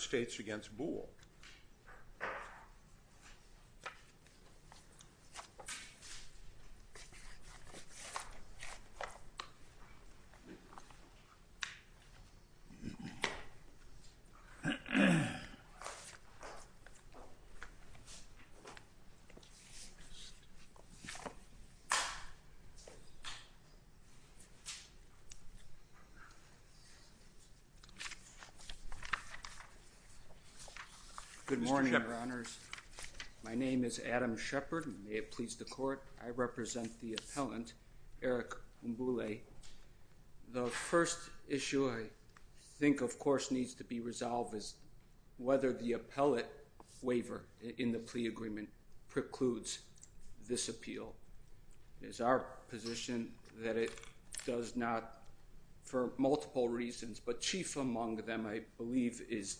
States v. Mboule. The first issue I think, of course, needs to be resolved is whether the appellate waiver in the plea agreement precludes this appeal. It is our position that it does not, for multiple reasons, but chief among them I believe is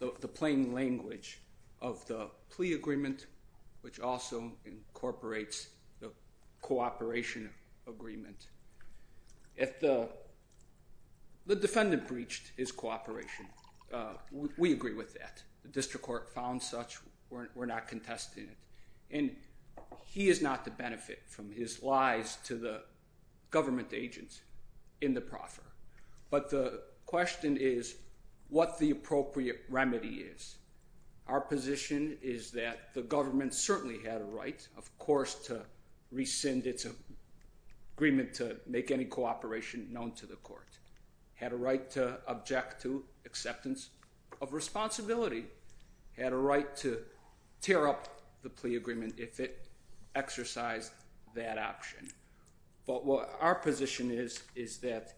the plain language of the plea agreement, which also incorporates the cooperation agreement. If the defendant breached his cooperation, we agree with that. The district court found such, we're not contesting it. And he is not to benefit from his lies to the government agents in the proffer. But the question is what the appropriate remedy is. Our position is that the government certainly had a right, of course, to rescind its agreement to make any cooperation known to the court. Had a right to object to acceptance of responsibility. Had a right to tear up the plea agreement if it exercised that option. But what our position is, is that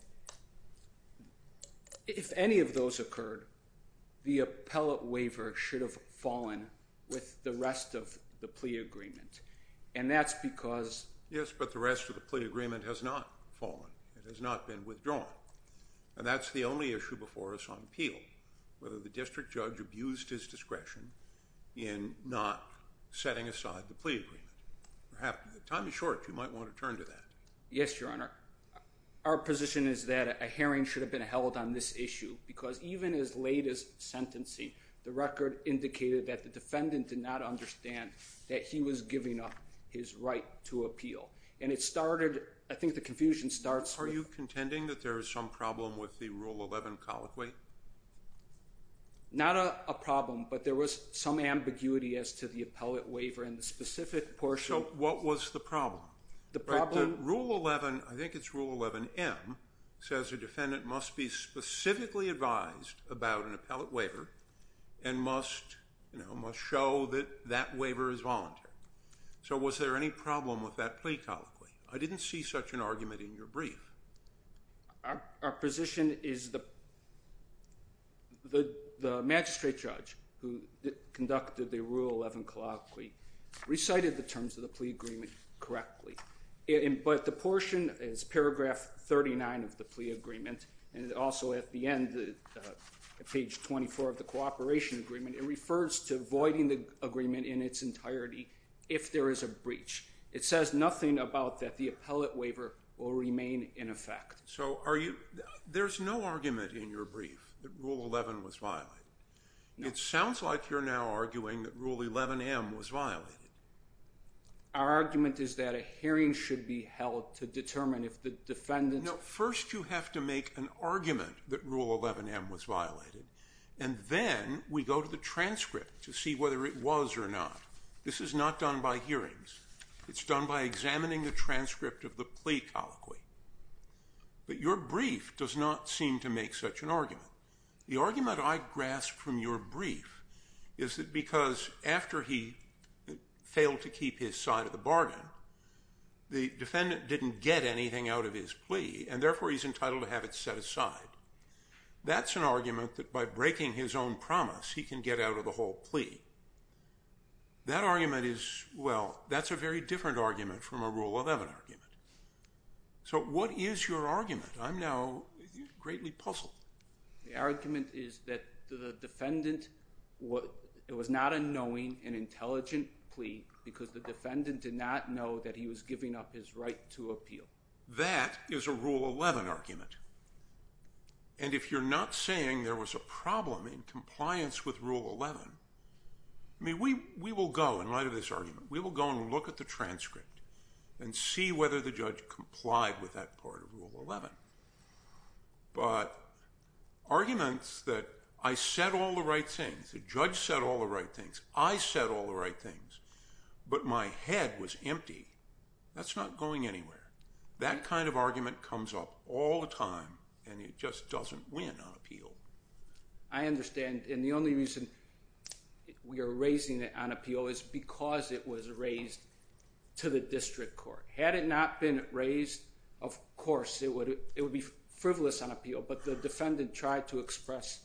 if any of those occurred, the appellate waiver should have fallen with the rest of the plea agreement. And that's because- Yes, but the rest of the plea agreement has not fallen. It has not been withdrawn. And that's the only issue before us on appeal, whether the district judge abused his discretion in not setting aside the plea agreement. Perhaps, time is short, you might want to turn to that. Yes, your honor. Our position is that a hearing should have been held on this issue because even as late as sentencing, the record indicated that the defendant did not understand that he was giving up his right to appeal. And it started, I think the confusion starts- Are you contending that there is some problem with the Rule 11 colloquy? Not a problem, but there was some ambiguity as to the appellate waiver and the specific portion- So what was the problem? The problem- Rule 11, I think it's Rule 11M, says a defendant must be specifically advised about an appellate waiver and must show that that waiver is voluntary. So was there any problem with that plea colloquy? I didn't see such an argument in your brief. Our position is the magistrate judge who conducted the Rule 11 colloquy recited the terms of the plea agreement correctly. But the portion is paragraph 39 of the plea agreement and also at the end, page 24 of the cooperation agreement, it refers to voiding the agreement in its entirety if there is a breach. It says nothing about that the appellate waiver will remain in effect. So are you- There's no argument in your brief that Rule 11 was violated. It sounds like you're now arguing that Rule 11M was violated. Our argument is that a hearing should be held to determine if the defendant- No, first you have to make an argument that Rule 11M was violated. And then we go to the transcript to see whether it was or not. This is not done by hearings. It's done by examining the transcript of the plea colloquy. But your brief does not seem to make such an argument. The argument I grasp from your brief is that because after he failed to keep his side of the bargain, the defendant didn't get anything out of his plea and therefore he's entitled to have it set aside. That's an argument that by breaking his own promise he can get out of the whole plea. That argument is- Well, that's a very different argument from a Rule 11 argument. So what is your argument? I'm now greatly puzzled. The argument is that the defendant- It was not a knowing and intelligent plea because the defendant did not know that he was giving up his right to appeal. That is a Rule 11 argument. And if you're not saying there was a problem in compliance with Rule 11, I mean, we will go in light of this argument, we will go and look at the transcript and see whether the judge complied with that part of Rule 11. But arguments that I said all the right things, the judge said all the right things, I said all the right things, but my head was empty, that's not going anywhere. That kind of argument comes up all the time and it just doesn't win on appeal. I understand. And the only reason we are raising it on appeal is because it was raised to the district court. Had it not been raised, of course it would be frivolous on appeal, but the defendant tried to express,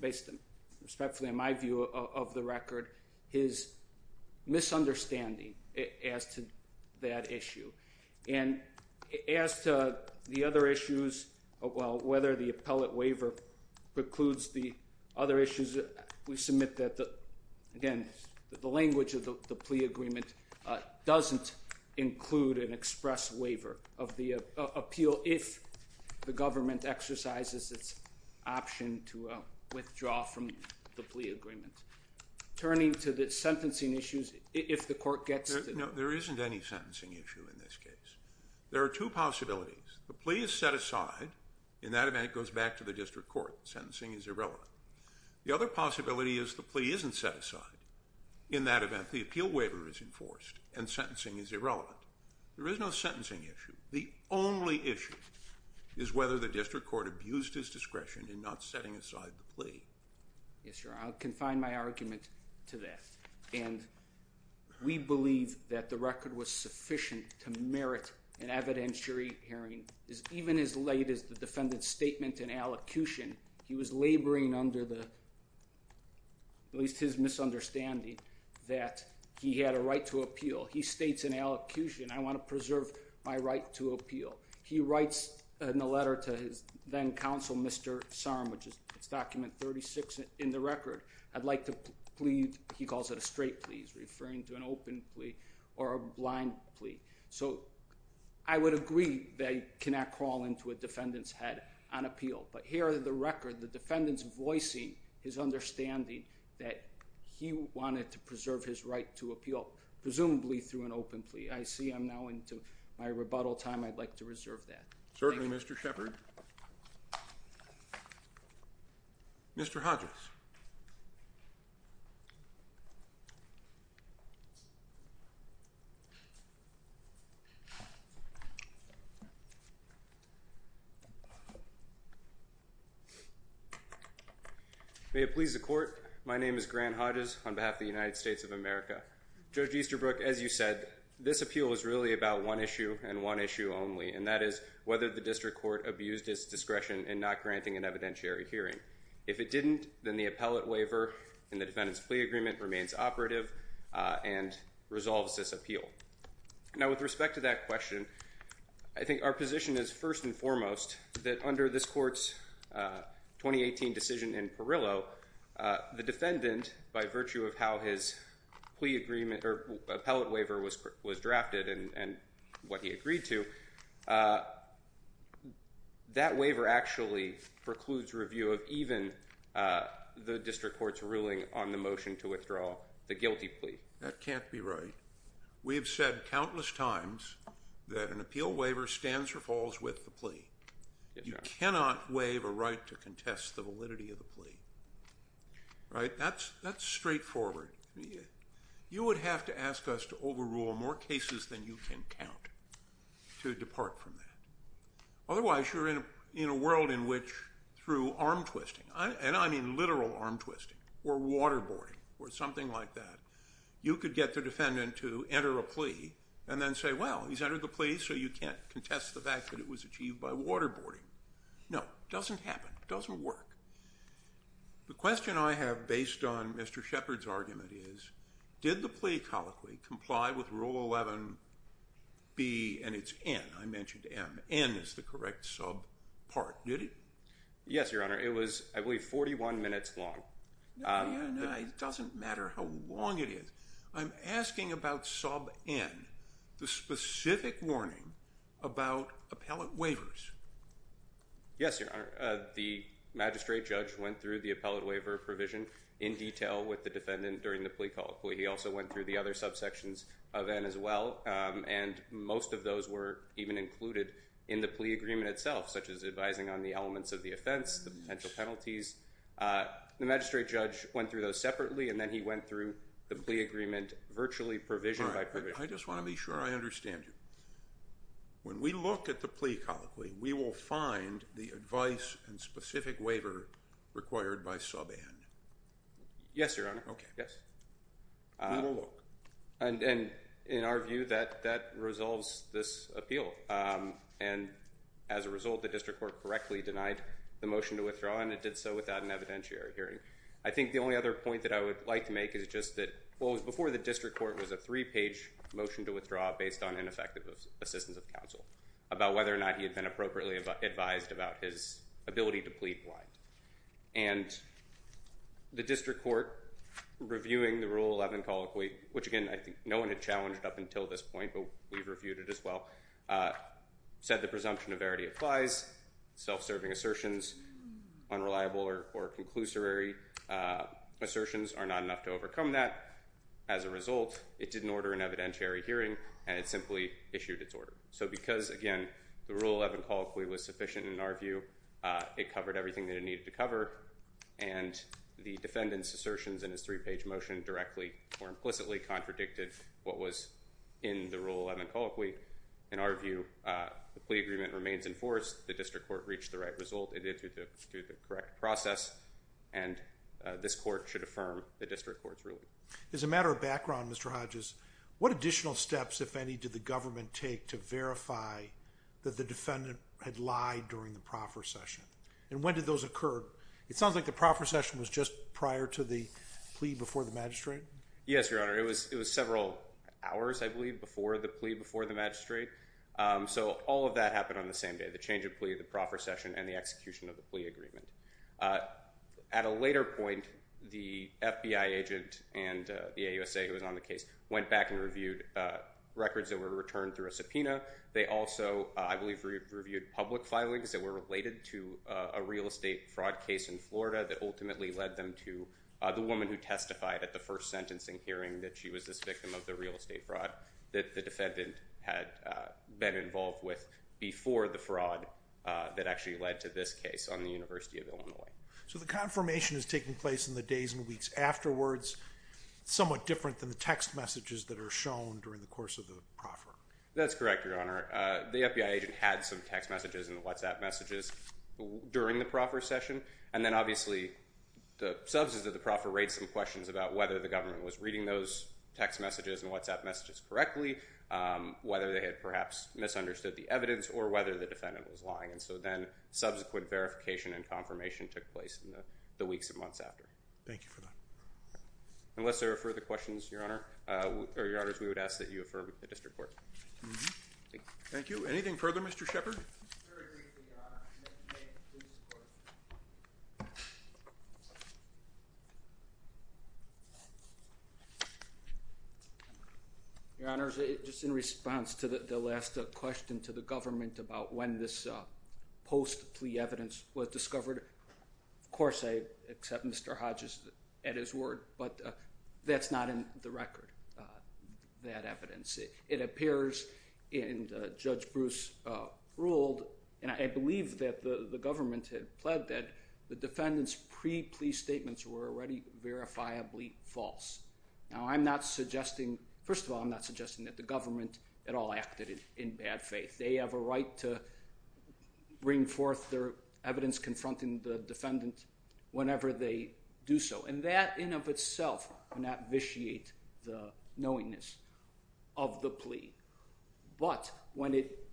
based respectfully on my view of the record, his misunderstanding as to that issue. And as to the other issues, whether the appellate waiver precludes the other issues, we submit that again, the language of the plea agreement doesn't include an express waiver of the appeal So if the government exercises its option to withdraw from the plea agreement, turning to the sentencing issues, if the court gets to... No, there isn't any sentencing issue in this case. There are two possibilities. The plea is set aside. In that event, it goes back to the district court. Sentencing is irrelevant. The other possibility is the plea isn't set aside. In that event, the appeal waiver is enforced and sentencing is irrelevant. There is no sentencing issue. The only issue is whether the district court abused his discretion in not setting aside the plea. Yes, Your Honor. I'll confine my argument to that. And we believe that the record was sufficient to merit an evidentiary hearing. Even as late as the defendant's statement in allocution, he was laboring under at least his misunderstanding that he had a right to appeal. He states in allocution, I want to preserve my right to appeal. He writes in a letter to his then-counsel, Mr. Sarum, which is document 36 in the record, I'd like to plead, he calls it a straight plea, he's referring to an open plea or a blind plea. So I would agree that he cannot crawl into a defendant's head on appeal. But here in the record, the defendant's voicing his understanding that he wanted to preserve his right to appeal, presumably through an open plea. I see I'm now into my rebuttal time. I'd like to reserve that. Thank you. Certainly, Mr. Shepard. Mr. Hodges. May it please the court. My name is Grant Hodges on behalf of the United States of America. Judge Easterbrook, as you said, this appeal is really about one issue and one issue only, and that is whether the district court abused its discretion in not granting an evidentiary hearing. If it didn't, then the appellate waiver in the defendant's plea agreement remains operative and resolves this appeal. Now with respect to that question, I think our position is first and foremost that under this court's 2018 decision in Perillo, the defendant, by virtue of how his plea agreement or appellate waiver was drafted and what he agreed to, that waiver actually precludes review of even the district court's ruling on the motion to withdraw the guilty plea. That can't be right. We have said countless times that an appeal waiver stands or falls with the plea. You cannot waive a right to contest the validity of the plea. Right? That's straightforward. You would have to ask us to overrule more cases than you can count to depart from that. Otherwise, you're in a world in which through arm twisting, and I mean literal arm twisting or waterboarding or something like that, you could get the defendant to enter a plea and then say, well, he's entered the plea, so you can't contest the fact that it was achieved by waterboarding. No. Doesn't happen. Doesn't work. The question I have based on Mr. Shepard's argument is, did the plea colloquy comply with Rule 11B and it's N. I mentioned M. N is the correct sub part. Did it? Yes, Your Honor. It was, I believe, 41 minutes long. Yeah, yeah. It doesn't matter how long it is. I'm asking about sub N, the specific warning about appellate waivers. Yes, Your Honor. The magistrate judge went through the appellate waiver provision in detail with the defendant during the plea colloquy. He also went through the other subsections of N as well, and most of those were even included in the plea agreement itself, such as advising on the elements of the offense, the potential penalties. The magistrate judge went through those separately, and then he went through the plea agreement virtually provision by provision. All right. I just want to be sure. I understand you. When we look at the plea colloquy, we will find the advice and specific waiver required by sub N. Yes, Your Honor. Okay. Yes. We will look. And in our view, that resolves this appeal, and as a result, the district court correctly denied the motion to withdraw, and it did so without an evidentiary hearing. I think the only other point that I would like to make is just that what was before the district court was a three-page motion to withdraw based on ineffective assistance of counsel about whether or not he had been appropriately advised about his ability to plead blind. And the district court, reviewing the Rule 11 colloquy, which, again, I think no one had challenged up until this point, but we've reviewed it as well, said the presumption of verity applies, self-serving assertions, unreliable or conclusory assertions are not enough to overcome that. As a result, it didn't order an evidentiary hearing, and it simply issued its order. So because, again, the Rule 11 colloquy was sufficient in our view, it covered everything that it needed to cover, and the defendant's assertions in his three-page motion directly or implicitly contradicted what was in the Rule 11 colloquy, in our view, the plea agreement remains in force. The district court reached the right result, it did through the correct process, and this court should affirm the district court's ruling. As a matter of background, Mr. Hodges, what additional steps, if any, did the government take to verify that the defendant had lied during the proffer session? And when did those occur? It sounds like the proffer session was just prior to the plea before the magistrate? Yes, Your Honor. It was several hours, I believe, before the plea before the magistrate. So all of that happened on the same day, the change of plea, the proffer session, and the execution of the plea agreement. At a later point, the FBI agent and the AUSA who was on the case went back and reviewed records that were returned through a subpoena. They also, I believe, reviewed public filings that were related to a real estate fraud case in Florida that ultimately led them to the woman who testified at the first sentencing hearing that she was this victim of the real estate fraud that the defendant had been involved with before the fraud that actually led to this case on the University of Illinois. So the confirmation is taking place in the days and weeks afterwards, somewhat different than the text messages that are shown during the course of the proffer? That's correct, Your Honor. The FBI agent had some text messages and WhatsApp messages during the proffer session, and then reading those text messages and WhatsApp messages correctly, whether they had perhaps misunderstood the evidence or whether the defendant was lying, and so then subsequent verification and confirmation took place in the weeks and months after. Thank you for that. Unless there are further questions, Your Honor, or Your Honors, we would ask that you affirm the district court. Thank you. Thank you. Anything further, Mr. Shepard? Very briefly, Your Honor. Your Honor, just in response to the last question to the government about when this post-plea evidence was discovered, of course I accept Mr. Hodges at his word, but that's not in the record, that evidence. It appears, and Judge Bruce ruled, and I believe that the government had pled that the defendant's pre-plea statements were already verifiably false. Now, I'm not suggesting, first of all, I'm not suggesting that the government at all acted in bad faith. They have a right to bring forth their evidence confronting the defendant whenever they do so, and that in of itself would not vitiate the knowingness of the plea, but when it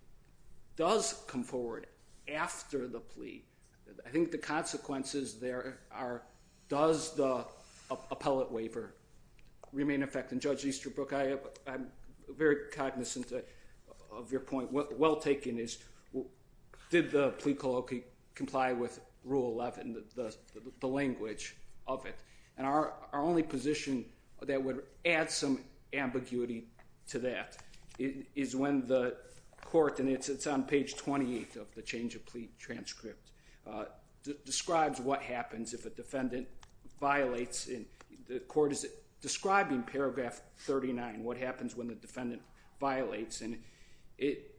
does come forward after the plea, I think the consequences there are, does the appellate waiver remain in effect? And Judge Easterbrook, I'm very cognizant of your point. The question that's well taken is, did the plea colloquy comply with Rule 11, the language of it? And our only position that would add some ambiguity to that is when the court, and it's on page 28 of the change of plea transcript, describes what happens if a defendant violates. The court is describing paragraph 39, what happens when the defendant violates, and it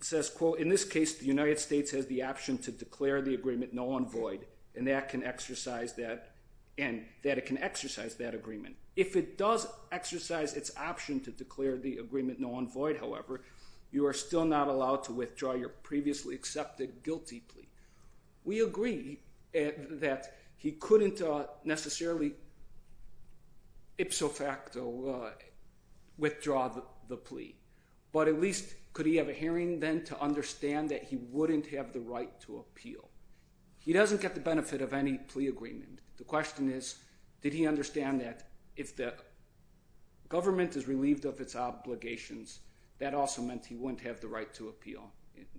says, quote, in this case, the United States has the option to declare the agreement null and void, and that it can exercise that agreement. If it does exercise its option to declare the agreement null and void, however, you are still not allowed to withdraw your previously accepted guilty plea. We agree that he couldn't necessarily ipso facto withdraw the plea, but at least could he have a hearing then to understand that he wouldn't have the right to appeal? He doesn't get the benefit of any plea agreement. The question is, did he understand that if the government is relieved of its obligations, that also meant he wouldn't have the right to appeal?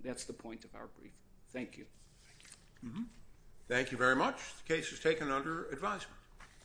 That's the point of our brief. Thank you. Thank you. Thank you very much. The case is taken under advisement.